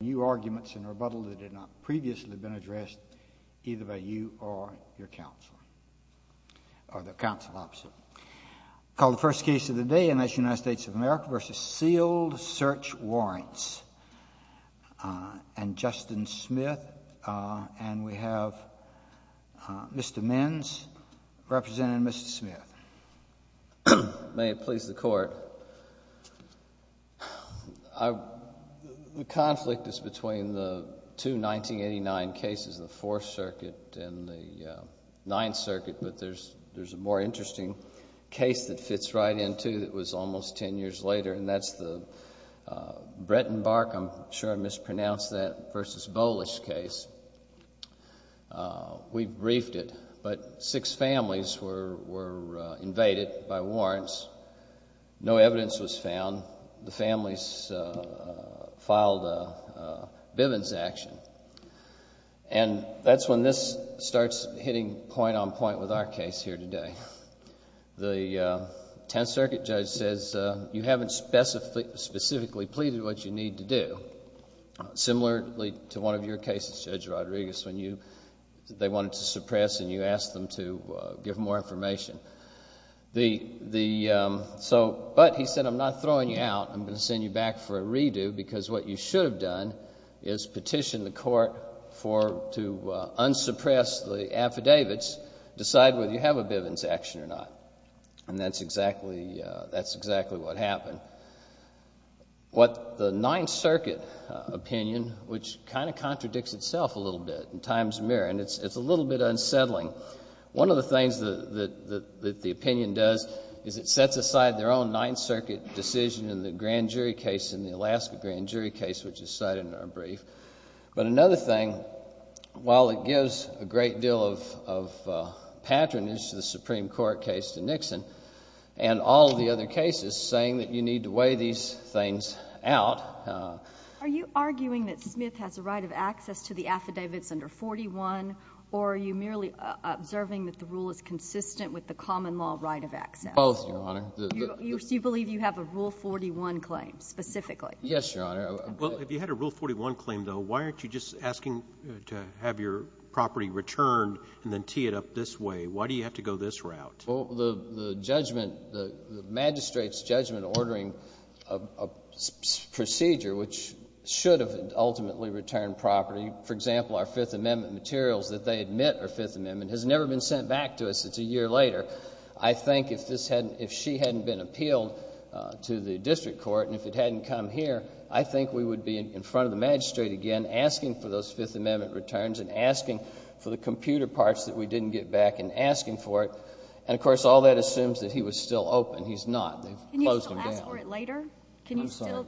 New arguments and rebuttals that have not previously been addressed, either by you or your counsel, or the counsel opposite. Call the first case of the day, United States of America v. Sealed Search Warrants. And Justin Smith, and we have Mr. Menz representing Mr. Smith. May it please the Court. The conflict is between the two 1989 cases, the Fourth Circuit and the Ninth Circuit. But there's a more interesting case that fits right in, too, that was almost ten years later. And that's the Bretton-Barkam, I'm sure I mispronounced that, v. Bolish case. We briefed it. But six families were invaded by warrants. No evidence was found. The families filed a Bivens action. And that's when this starts hitting point on point with our case here today. The Tenth Circuit judge says, you haven't specifically pleaded what you need to do. Similarly to one of your cases, Judge Rodriguez, when they wanted to suppress and you asked them to give more information. But he said, I'm not throwing you out. I'm going to send you back for a redo because what you should have done is petitioned the Court to unsuppress the affidavits, decide whether you have a Bivens action or not. And that's exactly what happened. What the Ninth Circuit opinion, which kind of contradicts itself a little bit in times mirror, and it's a little bit unsettling. One of the things that the opinion does is it sets aside their own Ninth Circuit decision in the grand jury case, in the Alaska grand jury case, which is cited in our brief. But another thing, while it gives a great deal of patronage to the Supreme Court case to Nixon and all of the other cases saying that you need to weigh these things out. Are you arguing that Smith has a right of access to the affidavits under 41? Or are you merely observing that the rule is consistent with the common law right of access? Both, Your Honor. You believe you have a Rule 41 claim specifically? Yes, Your Honor. Well, if you had a Rule 41 claim, though, why aren't you just asking to have your property returned and then tee it up this way? Why do you have to go this route? Well, the magistrate's judgment ordering a procedure which should have ultimately returned property, for example, our Fifth Amendment materials that they admit are Fifth Amendment, has never been sent back to us. It's a year later. I think if she hadn't been appealed to the district court and if it hadn't come here, I think we would be in front of the magistrate again asking for those Fifth Amendment returns and asking for the computer parts that we didn't get back and asking for it. And, of course, all that assumes that he was still open. He's not. They've closed him down. Can you still ask for it later? I'm sorry.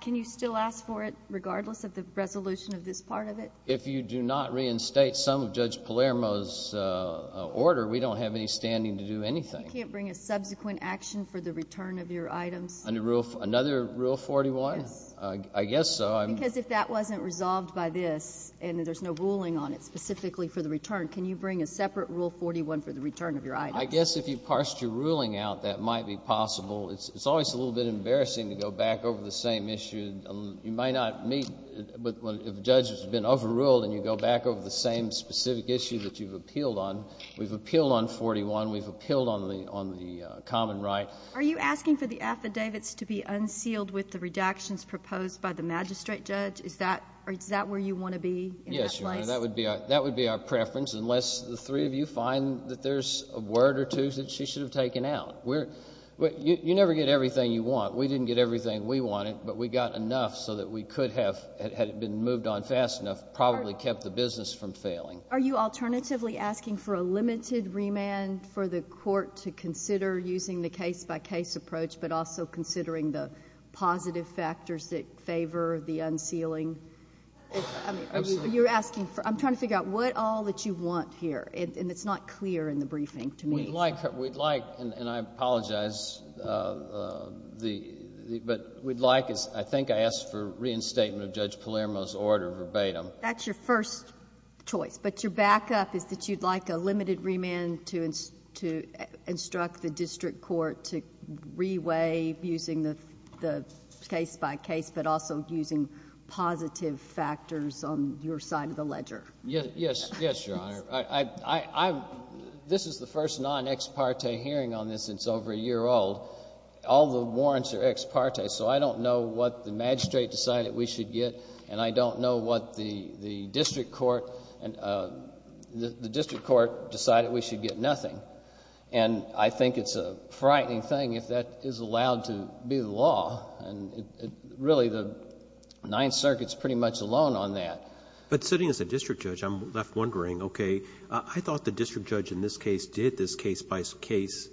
Can you still ask for it regardless of the resolution of this part of it? If you do not reinstate some of Judge Palermo's order, we don't have any standing to do anything. You can't bring a subsequent action for the return of your items? Another Rule 41? Yes. I guess so. Because if that wasn't resolved by this and there's no ruling on it specifically for the return, can you bring a separate Rule 41 for the return of your items? I guess if you parsed your ruling out, that might be possible. It's always a little bit embarrassing to go back over the same issue. You might not meet if a judge has been overruled and you go back over the same specific issue that you've appealed on. We've appealed on 41. We've appealed on the common right. Are you asking for the affidavits to be unsealed with the redactions proposed by the magistrate judge? Yes, Your Honor. That would be our preference unless the three of you find that there's a word or two that she should have taken out. You never get everything you want. We didn't get everything we wanted, but we got enough so that we could have, had it been moved on fast enough, probably kept the business from failing. Are you alternatively asking for a limited remand for the court to consider using the case-by-case approach but also considering the positive factors that favor the unsealing? I'm trying to figure out what all that you want here, and it's not clear in the briefing to me. We'd like, and I apologize, but we'd like, I think I asked for reinstatement of Judge Palermo's order verbatim. That's your first choice, but your backup is that you'd like a limited remand to instruct the district court to reweigh using the case-by-case but also using positive factors on your side of the ledger. Yes, Your Honor. This is the first non-ex parte hearing on this since over a year old. All the warrants are ex parte, so I don't know what the magistrate decided we should get, and I don't know what the district court decided we should get nothing. And I think it's a frightening thing if that is allowed to be the law, and really the Ninth Circuit's pretty much alone on that. But sitting as a district judge, I'm left wondering, okay, I thought the district judge in this case did this case-by-case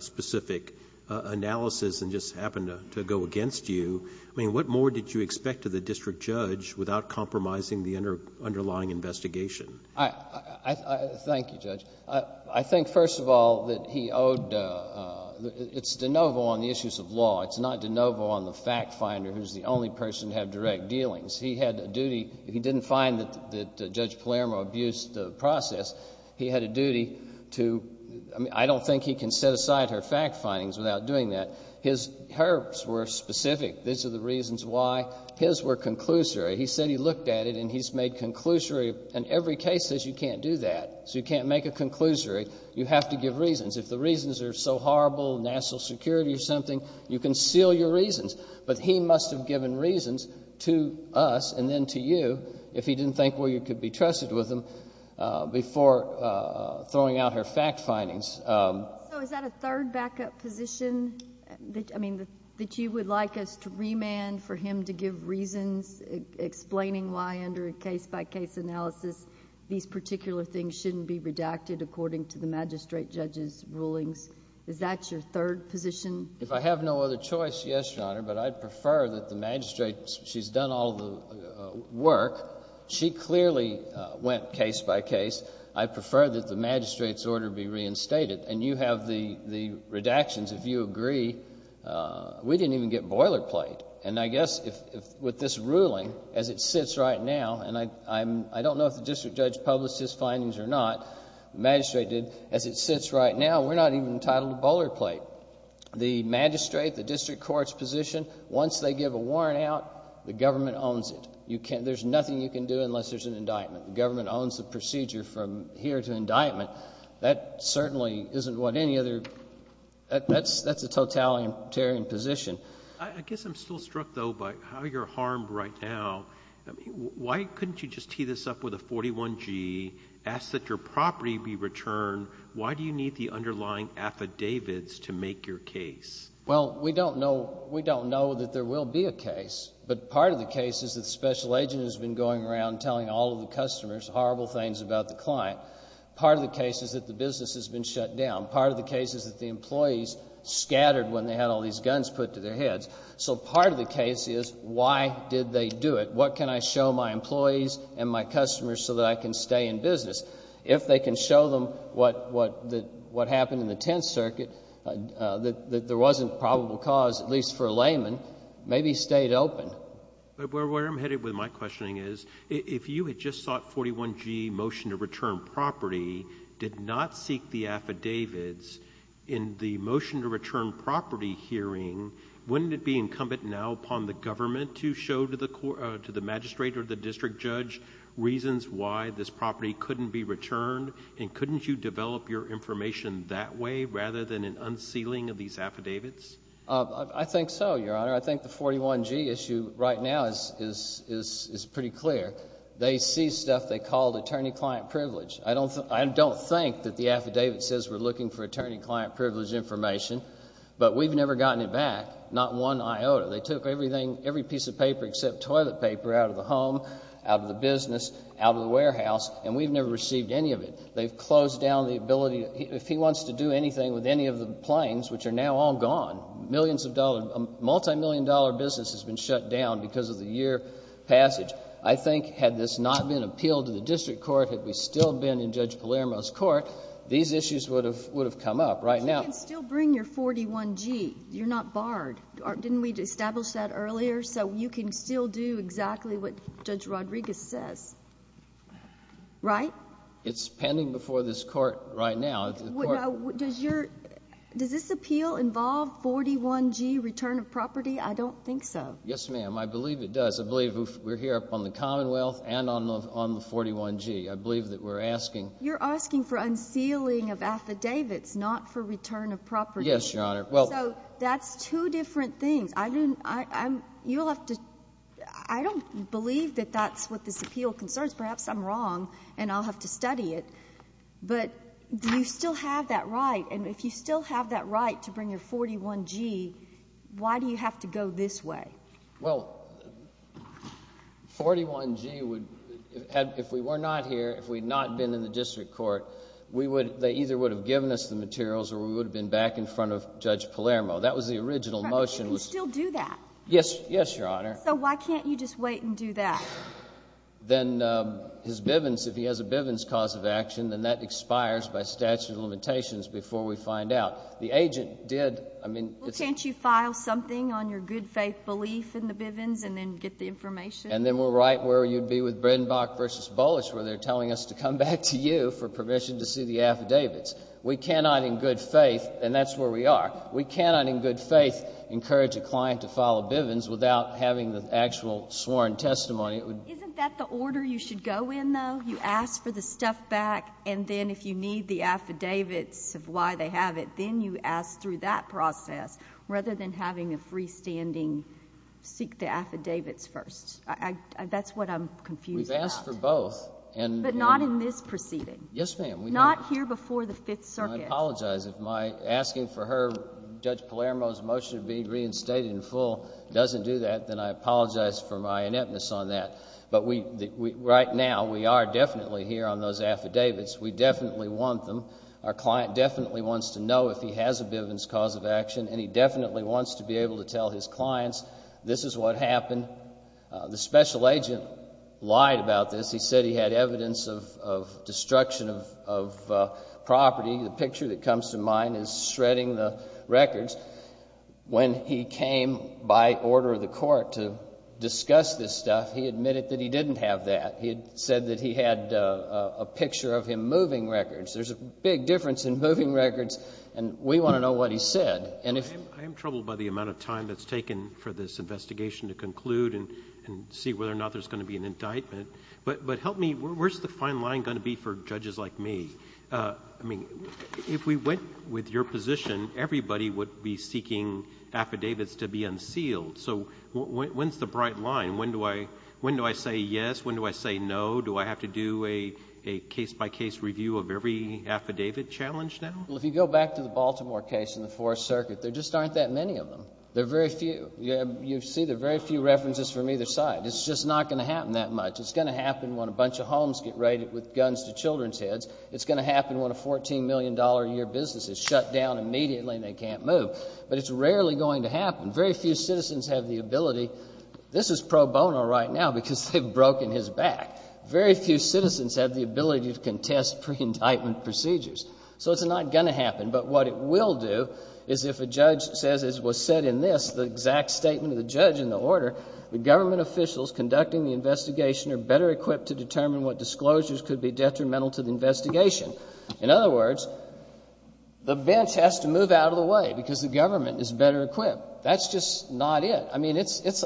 specific analysis and just happened to go against you. I mean, what more did you expect of the district judge without compromising the underlying investigation? Thank you, Judge. I think, first of all, that he owedóit's de novo on the issues of law. It's not de novo on the fact finder who's the only person to have direct dealings. He had a dutyóhe didn't find that Judge Palermo abused the process. He had a duty toóI mean, I don't think he can set aside her fact findings without doing that. His herbs were specific. These are the reasons why. His were conclusory. He said he looked at it, and he's made conclusory. And every case says you can't do that, so you can't make a conclusory. You have to give reasons. If the reasons are so horrible, national security or something, you can seal your reasons. But he must have given reasons to us and then to you if he didn't think, well, you could be trusted with them before throwing out her fact findings. So is that a third backup position that you would like us to remand for him to give reasons explaining why under a case-by-case analysis these particular things shouldn't be redacted according to the magistrate judge's rulings? Is that your third position? If I have no other choice, yes, Your Honor. But I'd prefer that the magistrateóshe's done all the work. She clearly went case-by-case. I prefer that the magistrate's order be reinstated. And you have the redactions. If you agree, we didn't even get boilerplate. And I guess with this ruling, as it sits right nowóand I don't know if the district judge published his findings or not, the magistrate didóas it sits right now, we're not even entitled to boilerplate. The magistrate, the district court's position, once they give a warrant out, the government owns it. There's nothing you can do unless there's an indictment. The government owns the procedure from here to indictment. That certainly isn't what any otheróthat's a totalitarian position. I guess I'm still struck, though, by how you're harmed right now. Why couldn't you just tee this up with a 41G, ask that your property be returned? Why do you need the underlying affidavits to make your case? Well, we don't knowówe don't know that there will be a case. But part of the case is that the special agent has been going around telling all of the customers horrible things about the client. Part of the case is that the business has been shut down. Part of the case is that the employees scattered when they had all these guns put to their heads. So part of the case is why did they do it? What can I show my employees and my customers so that I can stay in business? If they can show them what happened in the Tenth Circuit, that there wasn't probable cause, at least for a layman, maybe he stayed open. Where I'm headed with my questioning is if you had just sought 41G motion to return property, did not seek the affidavits, in the motion to return property hearing, wouldn't it be incumbent now upon the government to show to the magistrate or the district judge reasons why this property couldn't be returned? And couldn't you develop your information that way rather than an unsealing of these affidavits? I think so, Your Honor. I think the 41G issue right now is pretty clear. They see stuff they call attorney-client privilege. I don't think that the affidavit says we're looking for attorney-client privilege information, but we've never gotten it back, not one iota. They took everything, every piece of paper except toilet paper out of the home, out of the business, out of the warehouse, and we've never received any of it. They've closed down the ability. If he wants to do anything with any of the planes, which are now all gone, millions of dollars, a multimillion-dollar business has been shut down because of the year passage. I think had this not been appealed to the district court, had we still been in Judge Palermo's court, these issues would have come up. Right now— But you can still bring your 41G. You're not barred. Didn't we establish that earlier? So you can still do exactly what Judge Rodriguez says, right? It's pending before this court right now. Does this appeal involve 41G, return of property? I don't think so. Yes, ma'am. I believe it does. I believe we're here upon the Commonwealth and on the 41G. I believe that we're asking— You're asking for unsealing of affidavits, not for return of property. Yes, Your Honor. So that's two different things. I don't believe that that's what this appeal concerns. Perhaps I'm wrong and I'll have to study it, but do you still have that right? And if you still have that right to bring your 41G, why do you have to go this way? Well, 41G would—if we were not here, if we had not been in the district court, they either would have given us the materials or we would have been back in front of Judge Palermo. That was the original motion. But you can still do that. Yes, Your Honor. So why can't you just wait and do that? Then his Bivens—if he has a Bivens cause of action, then that expires by statute of limitations before we find out. The agent did—I mean— Well, can't you file something on your good faith belief in the Bivens and then get the information? And then we're right where you'd be with Bridenbach v. Bullish where they're telling us to come back to you for permission to see the affidavits. We cannot in good faith—and that's where we are. We cannot in good faith encourage a client to file a Bivens without having the actual sworn testimony. Isn't that the order you should go in, though? You ask for the stuff back, and then if you need the affidavits of why they have it, then you ask through that process rather than having a freestanding seek the affidavits first. That's what I'm confused about. We've asked for both. But not in this proceeding. Yes, ma'am. Not here before the Fifth Circuit. I apologize. If my asking for her—Judge Palermo's motion to be reinstated in full doesn't do that, then I apologize for my ineptness on that. But right now, we are definitely here on those affidavits. We definitely want them. Our client definitely wants to know if he has a Bivens cause of action, and he definitely wants to be able to tell his clients this is what happened. The special agent lied about this. He said he had evidence of destruction of property. The picture that comes to mind is shredding the records. When he came by order of the court to discuss this stuff, he admitted that he didn't have that. He said that he had a picture of him moving records. There's a big difference in moving records, and we want to know what he said. I am troubled by the amount of time that's taken for this investigation to conclude and see whether or not there's going to be an indictment. But help me, where's the fine line going to be for judges like me? I mean, if we went with your position, everybody would be seeking affidavits to be unsealed. So when's the bright line? When do I say yes? When do I say no? Do I have to do a case-by-case review of every affidavit challenge now? Well, if you go back to the Baltimore case in the Fourth Circuit, there just aren't that many of them. There are very few. You see there are very few references from either side. It's just not going to happen that much. It's going to happen when a bunch of homes get raided with guns to children's heads. It's going to happen when a $14 million-a-year business is shut down immediately and they can't move. But it's rarely going to happen. Very few citizens have the ability. This is pro bono right now because they've broken his back. Very few citizens have the ability to contest pre-indictment procedures. So it's not going to happen. But what it will do is if a judge says, as was said in this, the exact statement of the judge in the order, the government officials conducting the investigation are better equipped to determine what disclosures could be detrimental to the investigation. In other words, the bench has to move out of the way because the government is better equipped. That's just not it. I mean,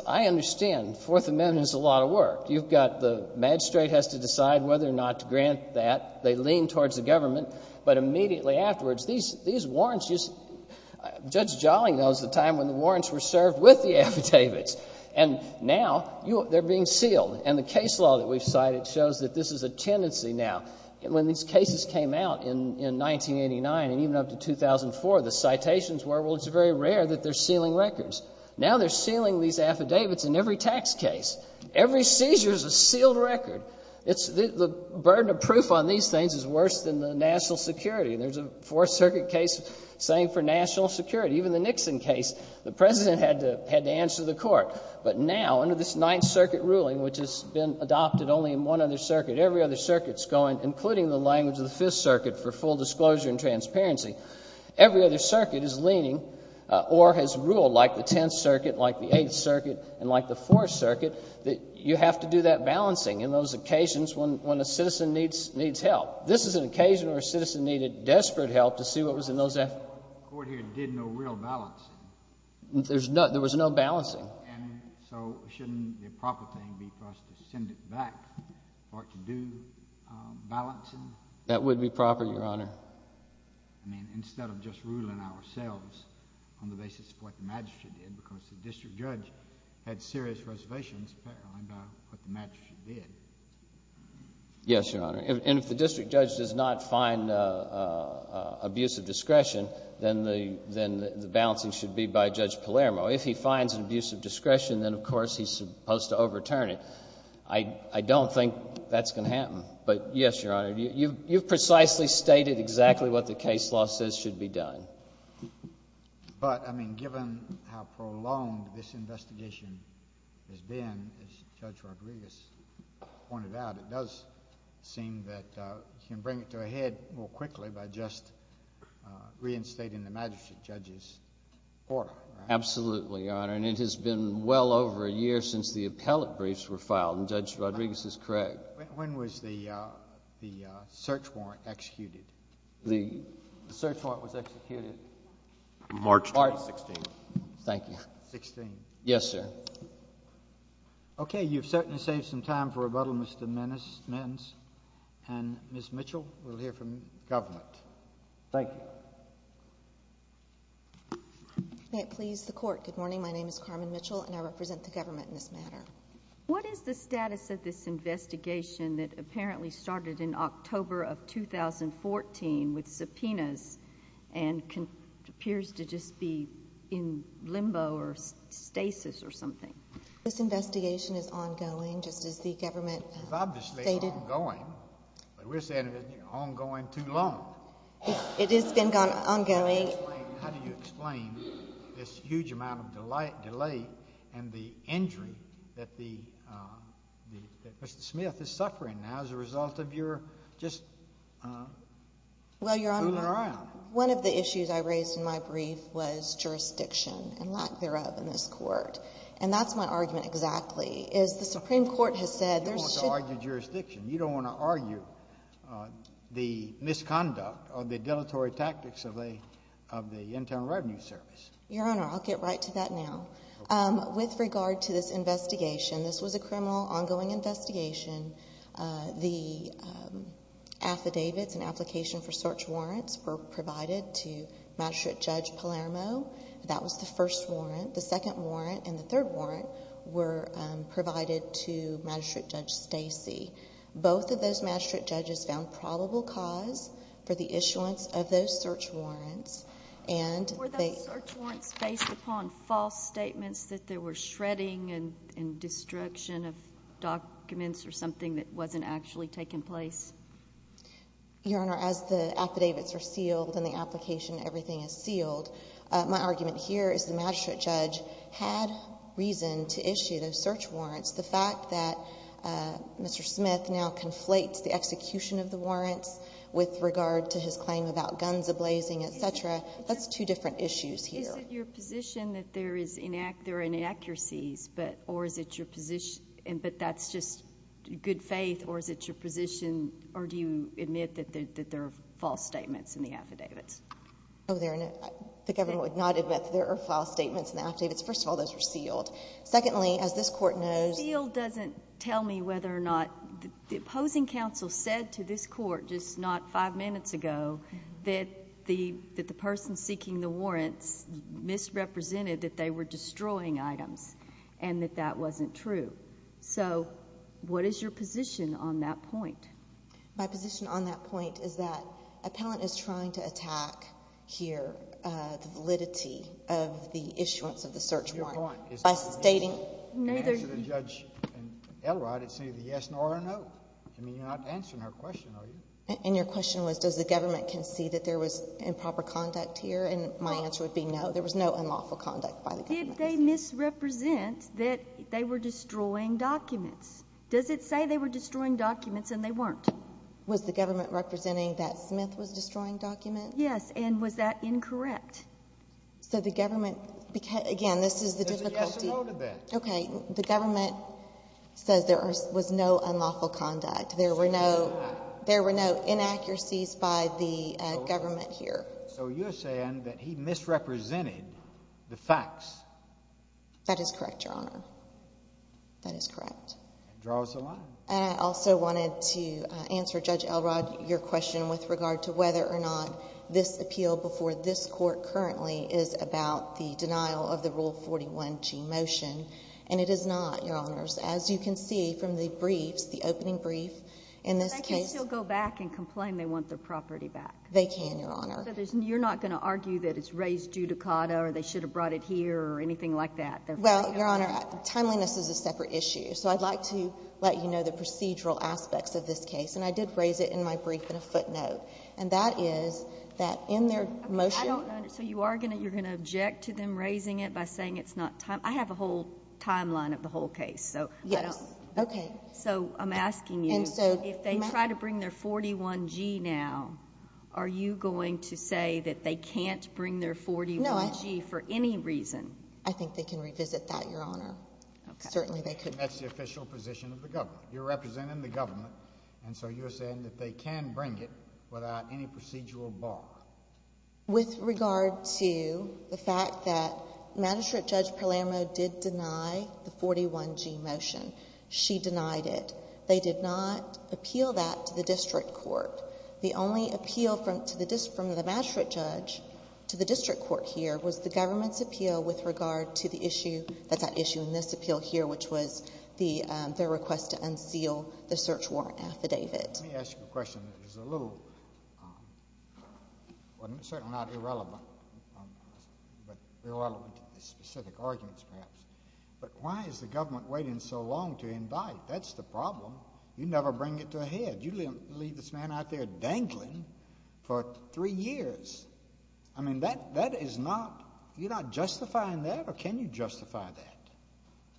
I understand Fourth Amendment is a lot of work. You've got the magistrate has to decide whether or not to grant that. They lean towards the government. But immediately afterwards, these warrants just – Judge Jolly knows the time when the warrants were served with the affidavits. And now they're being sealed. And the case law that we've cited shows that this is a tendency now. When these cases came out in 1989 and even up to 2004, the citations were, well, it's very rare that they're sealing records. Now they're sealing these affidavits in every tax case. Every seizure is a sealed record. The burden of proof on these things is worse than the national security. There's a Fourth Circuit case saying for national security. Even the Nixon case, the president had to answer the court. But now, under this Ninth Circuit ruling, which has been adopted only in one other circuit, every other circuit's going, including the language of the Fifth Circuit, for full disclosure and transparency. Every other circuit is leaning or has ruled, like the Tenth Circuit, like the Eighth Circuit, and like the Fourth Circuit, that you have to do that balancing in those occasions when a citizen needs help. This is an occasion where a citizen needed desperate help to see what was in those affidavits. The court here did no real balancing. There was no balancing. And so shouldn't the proper thing be for us to send it back or to do balancing? That would be proper, Your Honor. I mean, instead of just ruling ourselves on the basis of what the magistrate did because the district judge had serious reservations apparently about what the magistrate did. Yes, Your Honor. And if the district judge does not find abuse of discretion, then the balancing should be by Judge Palermo. If he finds an abuse of discretion, then, of course, he's supposed to overturn it. I don't think that's going to happen. But, yes, Your Honor, you've precisely stated exactly what the case law says should be done. But, I mean, given how prolonged this investigation has been, as Judge Rodriguez pointed out, it does seem that you can bring it to a head more quickly by just reinstating the magistrate judge's order. Absolutely, Your Honor. And it has been well over a year since the appellate briefs were filed, and Judge Rodriguez is correct. When was the search warrant executed? The search warrant was executed March 2016. Thank you. Sixteen. Yes, sir. Okay. You've certainly saved some time for rebuttal, Mr. Menz. And, Ms. Mitchell, we'll hear from the government. Thank you. May it please the Court. Good morning. My name is Carmen Mitchell, and I represent the government in this matter. What is the status of this investigation that apparently started in October of 2014 with subpoenas and appears to just be in limbo or stasis or something? This investigation is ongoing, just as the government stated. It's obviously ongoing, but we're saying it's been ongoing too long. It has been ongoing. How do you explain this huge amount of delay and the injury that Mr. Smith is suffering now as a result of your just fooling around? Well, Your Honor, one of the issues I raised in my brief was jurisdiction and lack thereof in this Court. And that's my argument exactly, is the Supreme Court has said there should be ---- You don't want to argue jurisdiction. You don't want to argue the misconduct or the dilatory tactics of the Internal Revenue Service. Your Honor, I'll get right to that now. With regard to this investigation, this was a criminal ongoing investigation. The affidavits and application for search warrants were provided to Magistrate Judge Palermo. That was the first warrant. The second warrant and the third warrant were provided to Magistrate Judge Stacey. Both of those magistrate judges found probable cause for the issuance of those search warrants. Were those search warrants based upon false statements that there were shredding and destruction of documents or something that wasn't actually taking place? Your Honor, as the affidavits are sealed and the application, everything is sealed, my argument here is the magistrate judge had reason to issue those search warrants. The fact that Mr. Smith now conflates the execution of the warrants with regard to his claim about guns ablazing, et cetera, that's two different issues here. Is it your position that there are inaccuracies, or is it your position, but that's just good faith, or is it your position, or do you admit that there are false statements in the affidavits? The government would not admit that there are false statements in the affidavits. First of all, those were sealed. Secondly, as this Court knows— Sealed doesn't tell me whether or not—the opposing counsel said to this Court just not five minutes ago that the person seeking the warrants misrepresented that they were destroying items and that that wasn't true. So what is your position on that point? My position on that point is that appellant is trying to attack here the validity of the issuance of the search warrant by stating— Your point is neither— Neither— In answer to Judge Elrod, it's neither yes nor no. I mean, you're not answering her question, are you? And your question was does the government concede that there was improper conduct here, and my answer would be no. There was no unlawful conduct by the government. Did they misrepresent that they were destroying documents? Does it say they were destroying documents and they weren't? Was the government representing that Smith was destroying documents? Yes. And was that incorrect? So the government—again, this is the difficulty— There's a yes or no to that. Okay. The government says there was no unlawful conduct. There were no— There were no inaccuracies by the government here. So you're saying that he misrepresented the facts. That is correct, Your Honor. That is correct. Draws a line. And I also wanted to answer Judge Elrod your question with regard to whether or not this appeal before this Court currently is about the denial of the Rule 41G motion. And it is not, Your Honors. As you can see from the briefs, the opening brief, in this case— But they can still go back and complain they want their property back. They can, Your Honor. So you're not going to argue that it's raised judicata or they should have brought it here or anything like that? Well, Your Honor, timeliness is a separate issue. So I'd like to let you know the procedural aspects of this case. And I did raise it in my brief in a footnote. And that is that in their motion— So you are going to—you're going to object to them raising it by saying it's not—I have a whole timeline of the whole case. So I don't— Yes. Okay. So I'm asking you, if they try to bring their 41G now, are you going to say that they can't bring their 41G for any reason? I think they can revisit that, Your Honor. Okay. Certainly they could. That's the official position of the government. You're representing the government, and so you're saying that they can bring it without any procedural bar. With regard to the fact that Magistrate Judge Palermo did deny the 41G motion. She denied it. They did not appeal that to the district court. The only appeal from the Magistrate Judge to the district court here was the government's appeal with regard to the issue— that issue in this appeal here, which was their request to unseal the search warrant affidavit. Let me ask you a question that is a little—well, certainly not irrelevant, but irrelevant to the specific arguments, perhaps. But why is the government waiting so long to indict? That's the problem. You never bring it to a head. You leave this man out there dangling for three years. I mean, that is not—you're not justifying that, or can you justify that?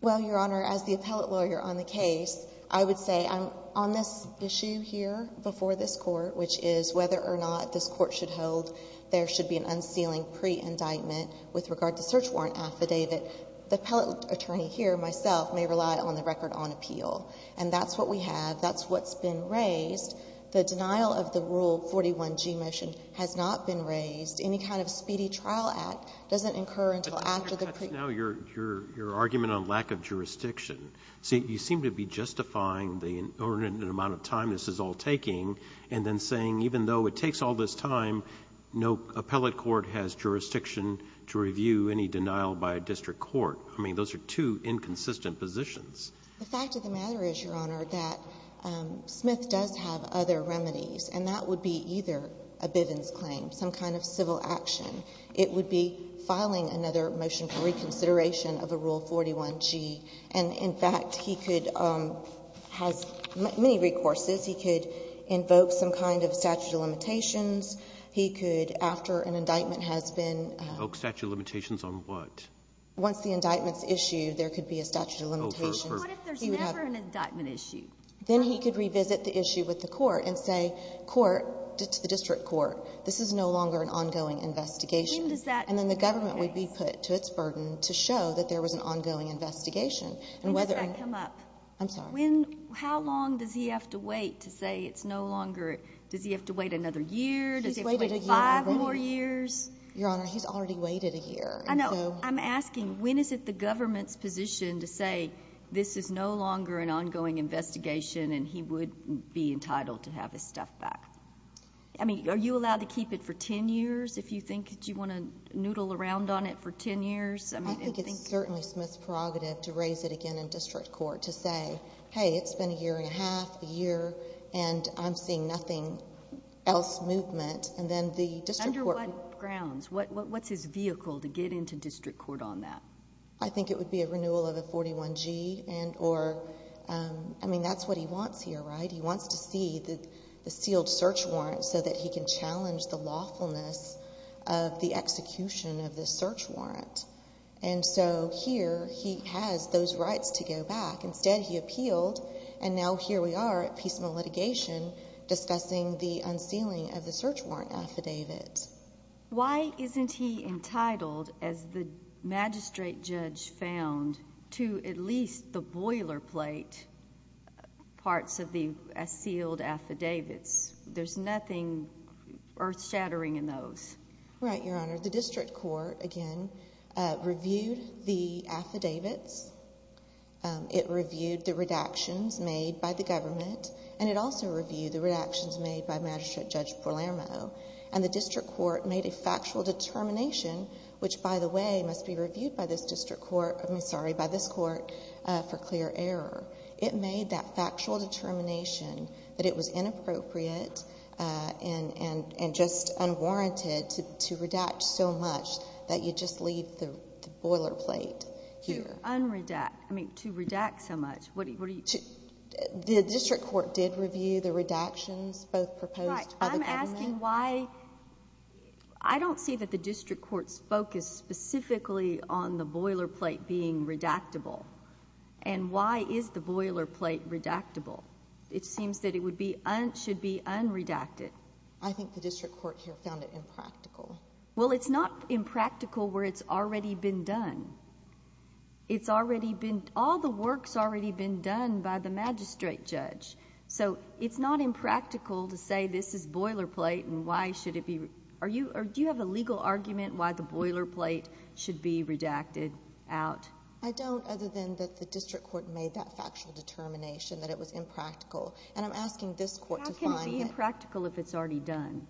Well, Your Honor, as the appellate lawyer on the case, I would say on this issue here before this court, which is whether or not this court should hold there should be an unsealing pre-indictment with regard to search warrant affidavit, the appellate attorney here, myself, may rely on the record on appeal. And that's what we have. That's what's been raised. The denial of the Rule 41g motion has not been raised. Any kind of speedy trial act doesn't incur until after the pre— But that's not your argument on lack of jurisdiction. See, you seem to be justifying the inordinate amount of time this is all taking and then saying even though it takes all this time, no appellate court has jurisdiction to review any denial by a district court. I mean, those are two inconsistent positions. The fact of the matter is, Your Honor, that Smith does have other remedies. And that would be either a Bivens claim, some kind of civil action. It would be filing another motion for reconsideration of a Rule 41g. And in fact, he could have many recourses. He could invoke some kind of statute of limitations. He could, after an indictment has been— Invoke statute of limitations on what? Once the indictment's issued, there could be a statute of limitations. But what if there's never an indictment issued? Then he could revisit the issue with the court and say to the district court, this is no longer an ongoing investigation. And then the government would be put to its burden to show that there was an ongoing investigation. And does that come up? I'm sorry. How long does he have to wait to say it's no longer? Does he have to wait another year? Does he have to wait five more years? Your Honor, he's already waited a year. I know. I'm asking, when is it the government's position to say this is no longer an ongoing investigation and he would be entitled to have his stuff back? I mean, are you allowed to keep it for 10 years if you think you want to noodle around on it for 10 years? I think it's certainly Smith's prerogative to raise it again in district court to say, hey, it's been a year and a half, a year, and I'm seeing nothing else movement. And then the district court— Under what grounds? What's his vehicle to get into district court on that? I think it would be a renewal of the 41G and or—I mean, that's what he wants here, right? He wants to see the sealed search warrant so that he can challenge the lawfulness of the execution of the search warrant. And so here he has those rights to go back. Instead, he appealed, and now here we are at piecemeal litigation discussing the unsealing of the search warrant affidavit. Why isn't he entitled, as the magistrate judge found, to at least the boilerplate parts of the sealed affidavits? There's nothing earth-shattering in those. Right, Your Honor. The district court, again, reviewed the affidavits. It reviewed the redactions made by the government, and it also reviewed the redactions made by Magistrate Judge Palermo. And the district court made a factual determination, which, by the way, must be reviewed by this district court— I mean, sorry, by this court for clear error. It made that factual determination that it was inappropriate and just unwarranted to redact so much that you just leave the boilerplate here. To unredact—I mean, to redact so much. What are you— The district court did review the redactions both proposed by the government— I'm asking why—I don't see that the district court's focus specifically on the boilerplate being redactable. And why is the boilerplate redactable? It seems that it would be—should be unredacted. I think the district court here found it impractical. Well, it's not impractical where it's already been done. It's already been—all the work's already been done by the magistrate judge. So it's not impractical to say this is boilerplate and why should it be—are you—do you have a legal argument why the boilerplate should be redacted out? I don't, other than that the district court made that factual determination that it was impractical. And I'm asking this court to find it— How can it be impractical if it's already done?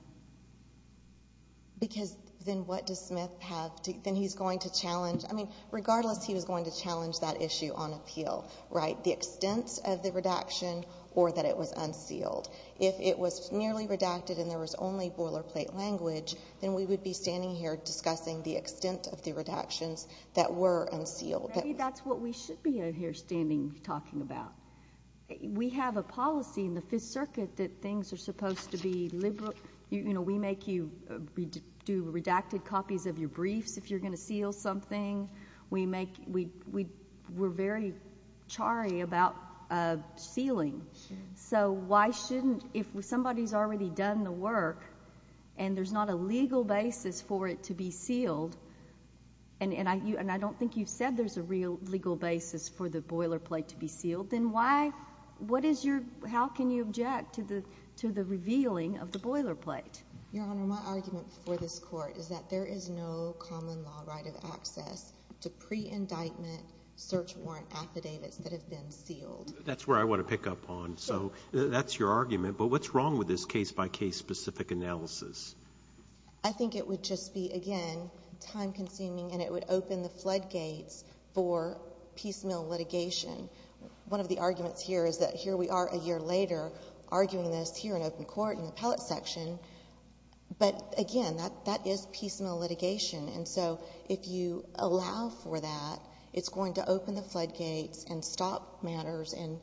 Because then what does Smith have to—then he's going to challenge—I mean, regardless, he was going to challenge that issue on appeal, right? The extent of the redaction or that it was unsealed. If it was merely redacted and there was only boilerplate language, then we would be standing here discussing the extent of the redactions that were unsealed. Maybe that's what we should be here standing talking about. We have a policy in the Fifth Circuit that things are supposed to be—you know, we make you—we do redacted copies of your briefs if you're going to seal something. We make—we're very charry about sealing. So why shouldn't—if somebody's already done the work and there's not a legal basis for it to be sealed, and I don't think you've said there's a real legal basis for the boilerplate to be sealed, then why—what is your—how can you object to the revealing of the boilerplate? Your Honor, my argument for this Court is that there is no common law right of access to pre-indictment search warrant affidavits that have been sealed. That's where I want to pick up on. So that's your argument, but what's wrong with this case-by-case specific analysis? I think it would just be, again, time-consuming and it would open the floodgates for piecemeal litigation. One of the arguments here is that here we are a year later arguing this here in open court in the appellate section, but again, that is piecemeal litigation. And so if you allow for that, it's going to open the floodgates and stop matters and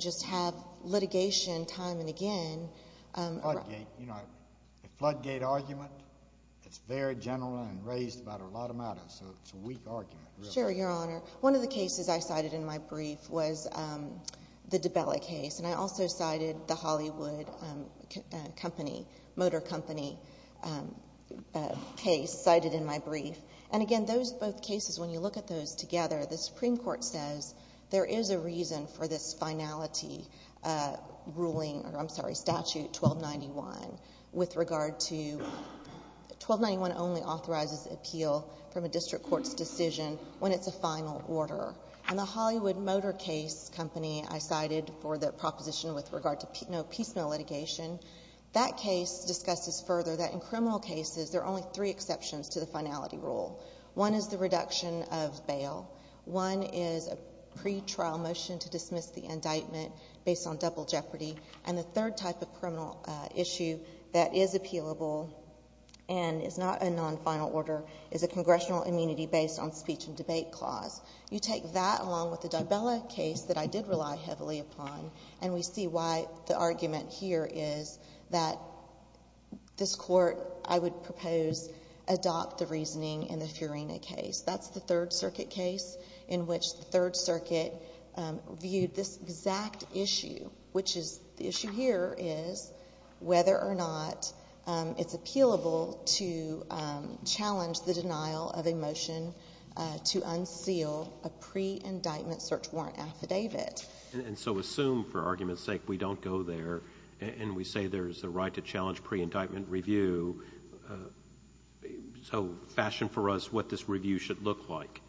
just have litigation time and again. Floodgate. You know, a floodgate argument, it's very general and raised about a lot of matters, so it's a weak argument. Sure, Your Honor. One of the cases I cited in my brief was the DiBella case, and I also cited the Hollywood Motor Company case cited in my brief. And again, those both cases, when you look at those together, the Supreme Court says there is a reason for this finality ruling—I'm sorry, statute 1291— and the Hollywood Motor Case Company I cited for the proposition with regard to no piecemeal litigation, that case discusses further that in criminal cases there are only three exceptions to the finality rule. One is the reduction of bail. One is a pretrial motion to dismiss the indictment based on double jeopardy. And the third type of criminal issue that is appealable and is not a non-final order is a congressional immunity based on speech and debate clause. You take that along with the DiBella case that I did rely heavily upon, and we see why the argument here is that this Court, I would propose, adopt the reasoning in the Fiorina case. That's the Third Circuit case in which the Third Circuit viewed this exact issue, which is—the issue here is whether or not it's appealable to challenge the denial of a motion to unseal a pre-indictment search warrant affidavit. And so assume, for argument's sake, we don't go there and we say there's a right to challenge pre-indictment review. So fashion for us what this review should look like.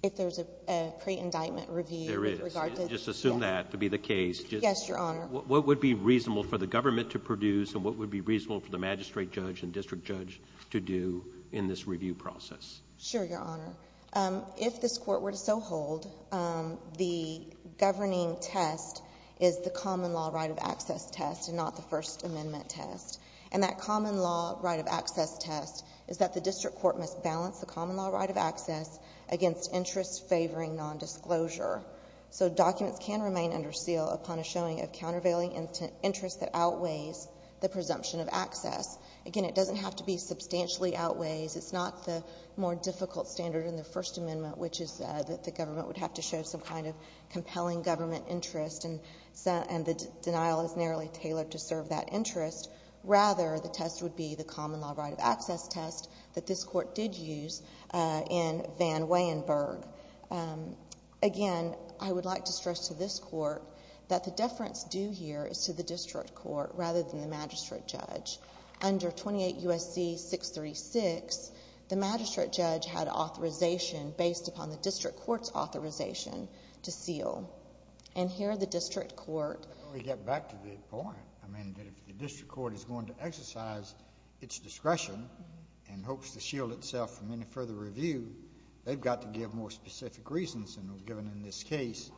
If there's a pre-indictment review— There is. Just assume that to be the case. Yes, Your Honor. What would be reasonable for the government to produce, and what would be reasonable for the magistrate judge and district judge to do in this review process? Sure, Your Honor. If this Court were to so hold, the governing test is the common law right of access test and not the First Amendment test. And that common law right of access test is that the district court must balance the common law right of access against interests favoring nondisclosure. So documents can remain under seal upon a showing of countervailing interest that outweighs the presumption of access. Again, it doesn't have to be substantially outweighs. It's not the more difficult standard in the First Amendment, which is that the government would have to show some kind of compelling government interest, and the denial is narrowly tailored to serve that interest. Rather, the test would be the common law right of access test that this Court did use in Van Weyenberg. Again, I would like to stress to this Court that the deference due here is to the district court rather than the magistrate judge. Under 28 U.S.C. 636, the magistrate judge had authorization based upon the district court's authorization to seal. And here the district court— Let me get back to the point. I mean, if the district court is going to exercise its discretion and hopes to shield itself from any further review, they've got to give more specific reasons than are given in this case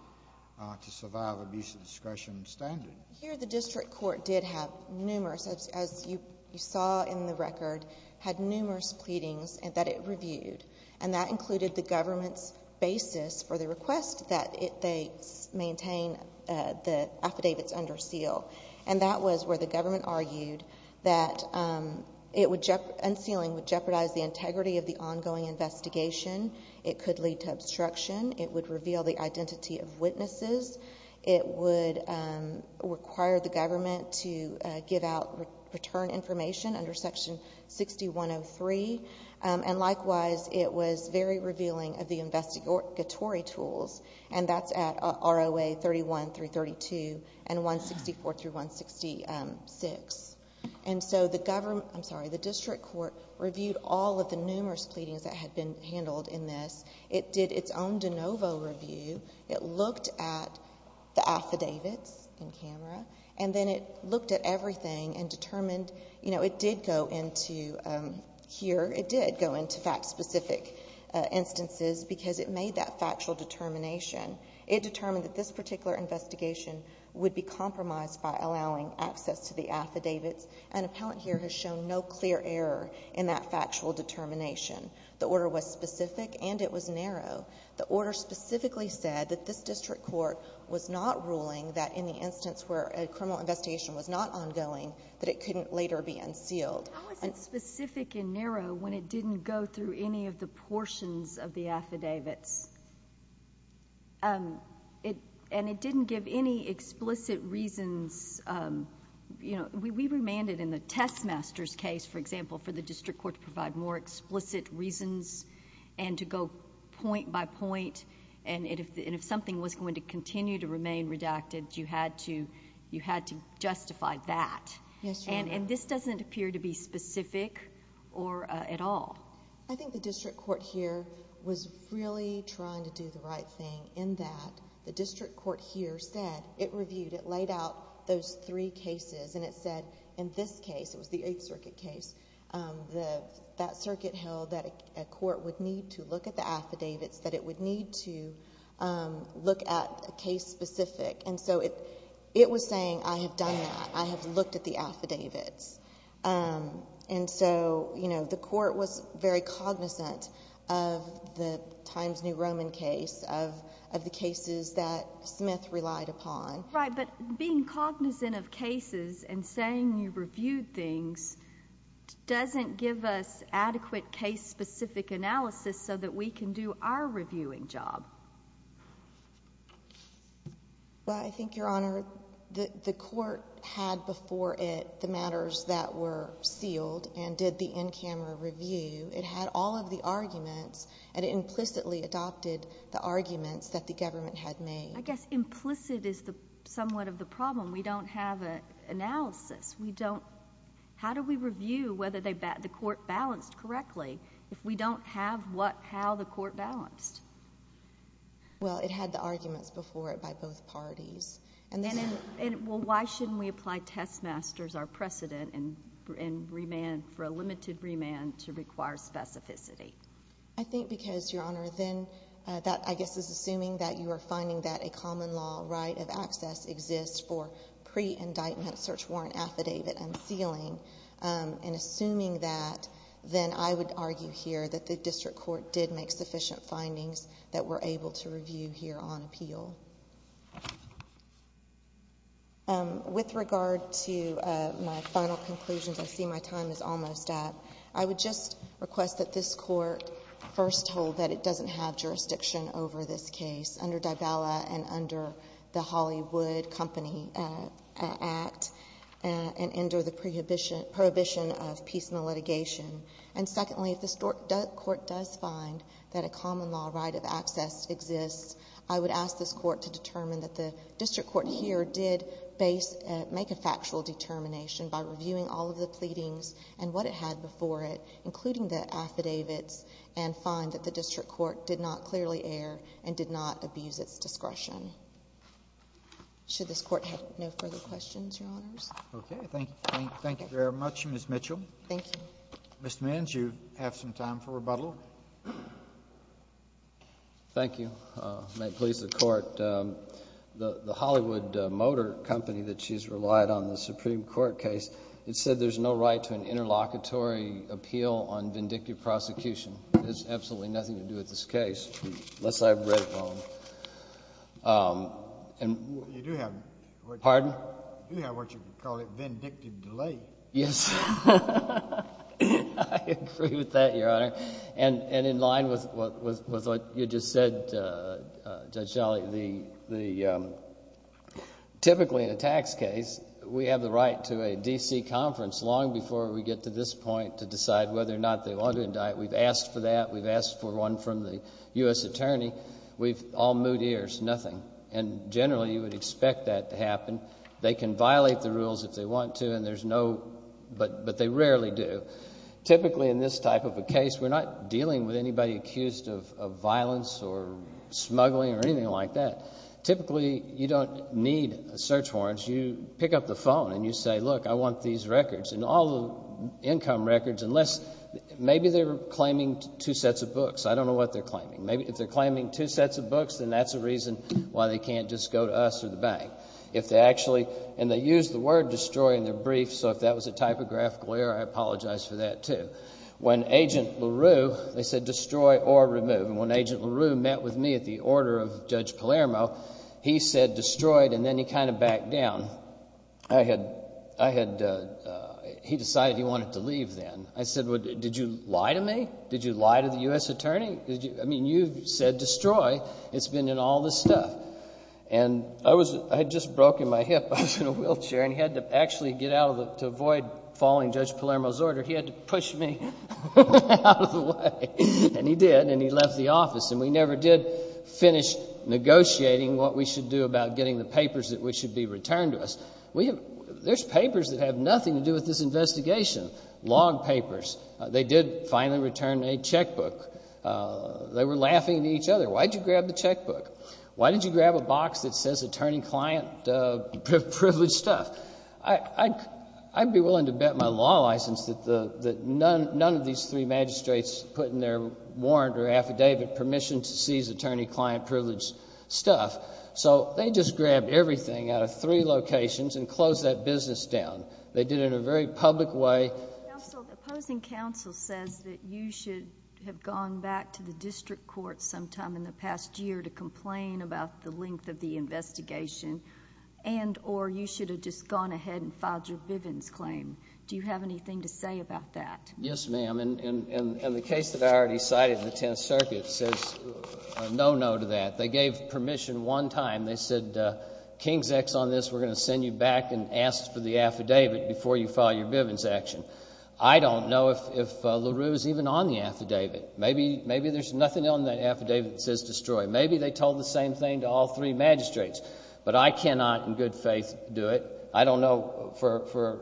to survive abuse of discretion standard. Here the district court did have numerous, as you saw in the record, had numerous pleadings that it reviewed, and that included the government's basis for the request that they maintain the affidavits under seal. And that was where the government argued that unsealing would jeopardize the integrity of the ongoing investigation. It could lead to obstruction. It would reveal the identity of witnesses. It would require the government to give out return information under Section 6103. And likewise, it was very revealing of the investigatory tools, and that's at ROA 31 through 32 and 164 through 166. And so the district court reviewed all of the numerous pleadings that had been handled in this. It did its own de novo review. It looked at the affidavits in camera, and then it looked at everything and determined— here it did go into fact-specific instances because it made that factual determination. It determined that this particular investigation would be compromised by allowing access to the affidavits. An appellant here has shown no clear error in that factual determination. The order was specific and it was narrow. The order specifically said that this district court was not ruling that in the instance where a criminal investigation was not ongoing, that it couldn't later be unsealed. How is it specific and narrow when it didn't go through any of the portions of the affidavits? And it didn't give any explicit reasons. We remanded in the test master's case, for example, for the district court to provide more explicit reasons and to go point by point. And if something was going to continue to remain redacted, you had to justify that. Yes, Your Honor. And this doesn't appear to be specific at all. I think the district court here was really trying to do the right thing in that the district court here said— it reviewed, it laid out those three cases, and it said in this case, it was the Eighth Circuit case, that circuit held that a court would need to look at the affidavits, that it would need to look at a case specific. And so it was saying, I have done that. I have looked at the affidavits. And so, you know, the court was very cognizant of the Times New Roman case, of the cases that Smith relied upon. Right, but being cognizant of cases and saying you reviewed things doesn't give us adequate case-specific analysis so that we can do our reviewing job. Well, I think, Your Honor, the court had before it the matters that were sealed and did the in-camera review. It had all of the arguments, and it implicitly adopted the arguments that the government had made. I guess implicit is somewhat of the problem. We don't have an analysis. How do we review whether the court balanced correctly if we don't have how the court balanced? Well, it had the arguments before it by both parties. And why shouldn't we apply test masters our precedent and remand for a limited remand to require specificity? I think because, Your Honor, then that, I guess, is assuming that you are finding that a common law right of access exists for pre-indictment search warrant affidavit unsealing. And assuming that, then I would argue here that the district court did make sufficient findings that we're able to review here on appeal. With regard to my final conclusions, I see my time is almost up. I would just request that this court first hold that it doesn't have jurisdiction over this case under Dybala and under the Hollywood Company Act and under the prohibition of piecemeal litigation. And secondly, if this court does find that a common law right of access exists, I would ask this court to determine that the district court here did make a factual determination by reviewing all of the pleadings and what it had before it, including the affidavits, and find that the district court did not clearly err and did not abuse its discretion. Should this court have no further questions, Your Honors? Okay. Thank you very much, Ms. Mitchell. Thank you. Mr. Manns, you have some time for rebuttal. Thank you. May it please the Court. The Hollywood Motor Company that she has relied on in the Supreme Court case, it said there's no right to an interlocutory appeal on vindictive prosecution. It has absolutely nothing to do with this case, unless I have read it wrong. You do have what you call a vindictive delay. Yes. I agree with that, Your Honor. And in line with what you just said, Judge Shelley, typically in a tax case, we have the right to a D.C. conference long before we get to this point to decide whether or not they want to indict. We've asked for that. We've asked for one from the U.S. attorney. We've all moved ears. Nothing. And generally, you would expect that to happen. They can violate the rules if they want to, and there's no... but they rarely do. Typically, in this type of a case, we're not dealing with anybody accused of violence or smuggling or anything like that. Typically, you don't need search warrants. You pick up the phone and you say, Look, I want these records and all the income records unless... Maybe they're claiming two sets of books. I don't know what they're claiming. Maybe if they're claiming two sets of books, then that's a reason why they can't just go to us or the bank. If they actually... and they use the word destroy in their brief, so if that was a typographical error, I apologize for that, too. When Agent LaRue... they said destroy or remove. And when Agent LaRue met with me at the order of Judge Palermo, he said destroyed and then he kind of backed down. I had... he decided he wanted to leave then. I said, Did you lie to me? Did you lie to the U.S. attorney? I mean, you said destroy. It's been in all this stuff. And I was... I had just broken my hip. I was in a wheelchair, and he had to actually get out of the... to avoid following Judge Palermo's order, he had to push me out of the way. And he did, and he left the office. And we never did finish negotiating what we should do about getting the papers that should be returned to us. There's papers that have nothing to do with this investigation, log papers. They did finally return a checkbook. They were laughing at each other. Why did you grab the checkbook? Why did you grab a box that says attorney-client privilege stuff? I'd be willing to bet my law license that none of these three magistrates put in their warrant or affidavit permission to seize attorney-client privilege stuff. So they just grabbed everything out of three locations and closed that business down. They did it in a very public way. Counsel, the opposing counsel says that you should have gone back to the district court sometime in the past year to complain about the length of the investigation, and or you should have just gone ahead and filed your Bivens claim. Do you have anything to say about that? Yes, ma'am. And the case that I already cited in the Tenth Circuit says no, no to that. They gave permission one time. They said, King's X on this, we're going to send you back and ask for the affidavit before you file your Bivens action. I don't know if LaRue is even on the affidavit. Maybe there's nothing on that affidavit that says destroy. Maybe they told the same thing to all three magistrates, but I cannot in good faith do it. I don't know. For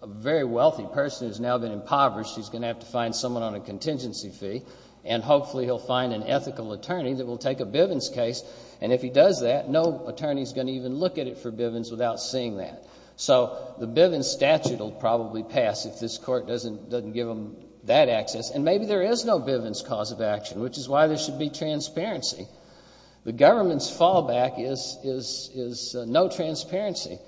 a very wealthy person who's now been impoverished, he's going to have to find someone on a contingency fee, and hopefully he'll find an ethical attorney that will take a Bivens case, and if he does that, no attorney is going to even look at it for Bivens without seeing that. So the Bivens statute will probably pass if this court doesn't give him that access, and maybe there is no Bivens cause of action, which is why there should be transparency. The government's fallback is no transparency,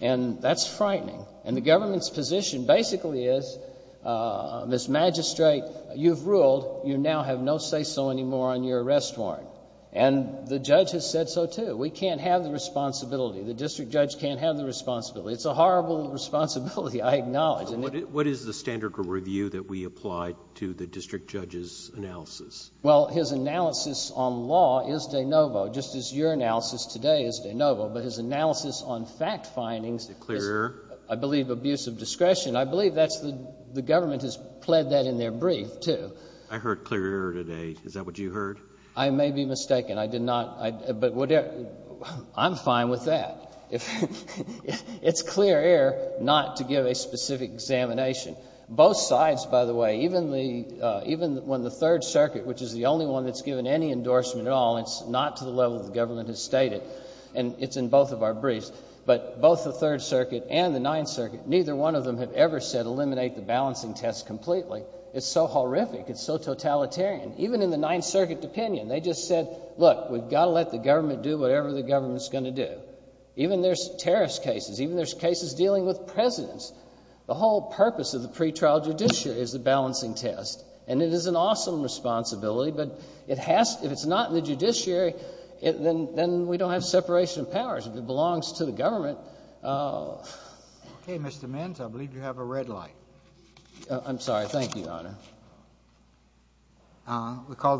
and that's frightening. And the government's position basically is, Ms. Magistrate, you've ruled. You now have no say so anymore on your arrest warrant. And the judge has said so, too. We can't have the responsibility. The district judge can't have the responsibility. It's a horrible responsibility, I acknowledge. And it — What is the standard review that we applied to the district judge's analysis? Well, his analysis on law is de novo, just as your analysis today is de novo. But his analysis on fact findings is — Clear error? I believe abuse of discretion. I believe that's the — the government has pled that in their brief, too. I heard clear error today. Is that what you heard? I may be mistaken. I did not — but whatever — I'm fine with that. It's clear error not to give a specific examination. Both sides, by the way, even the — even when the Third Circuit, which is the only one that's given any endorsement at all, and it's not to the level the government has stated, and it's in both of our briefs, but both the Third Circuit and the Ninth Circuit, neither one of them have ever said eliminate the balancing test completely. It's so horrific. It's so totalitarian. Even in the Ninth Circuit opinion, they just said, look, we've got to let the government do whatever the government's going to do. Even there's terrorist cases. Even there's cases dealing with presidents. The whole purpose of the pretrial judiciary is the balancing test. And it is an awesome responsibility, but it has — if it's not in the judiciary, then we don't have separation of powers. If it belongs to the government — Okay, Mr. Menz, I believe you have a red light. I'm sorry. Thank you, Your Honor. Thank you, Your Honor.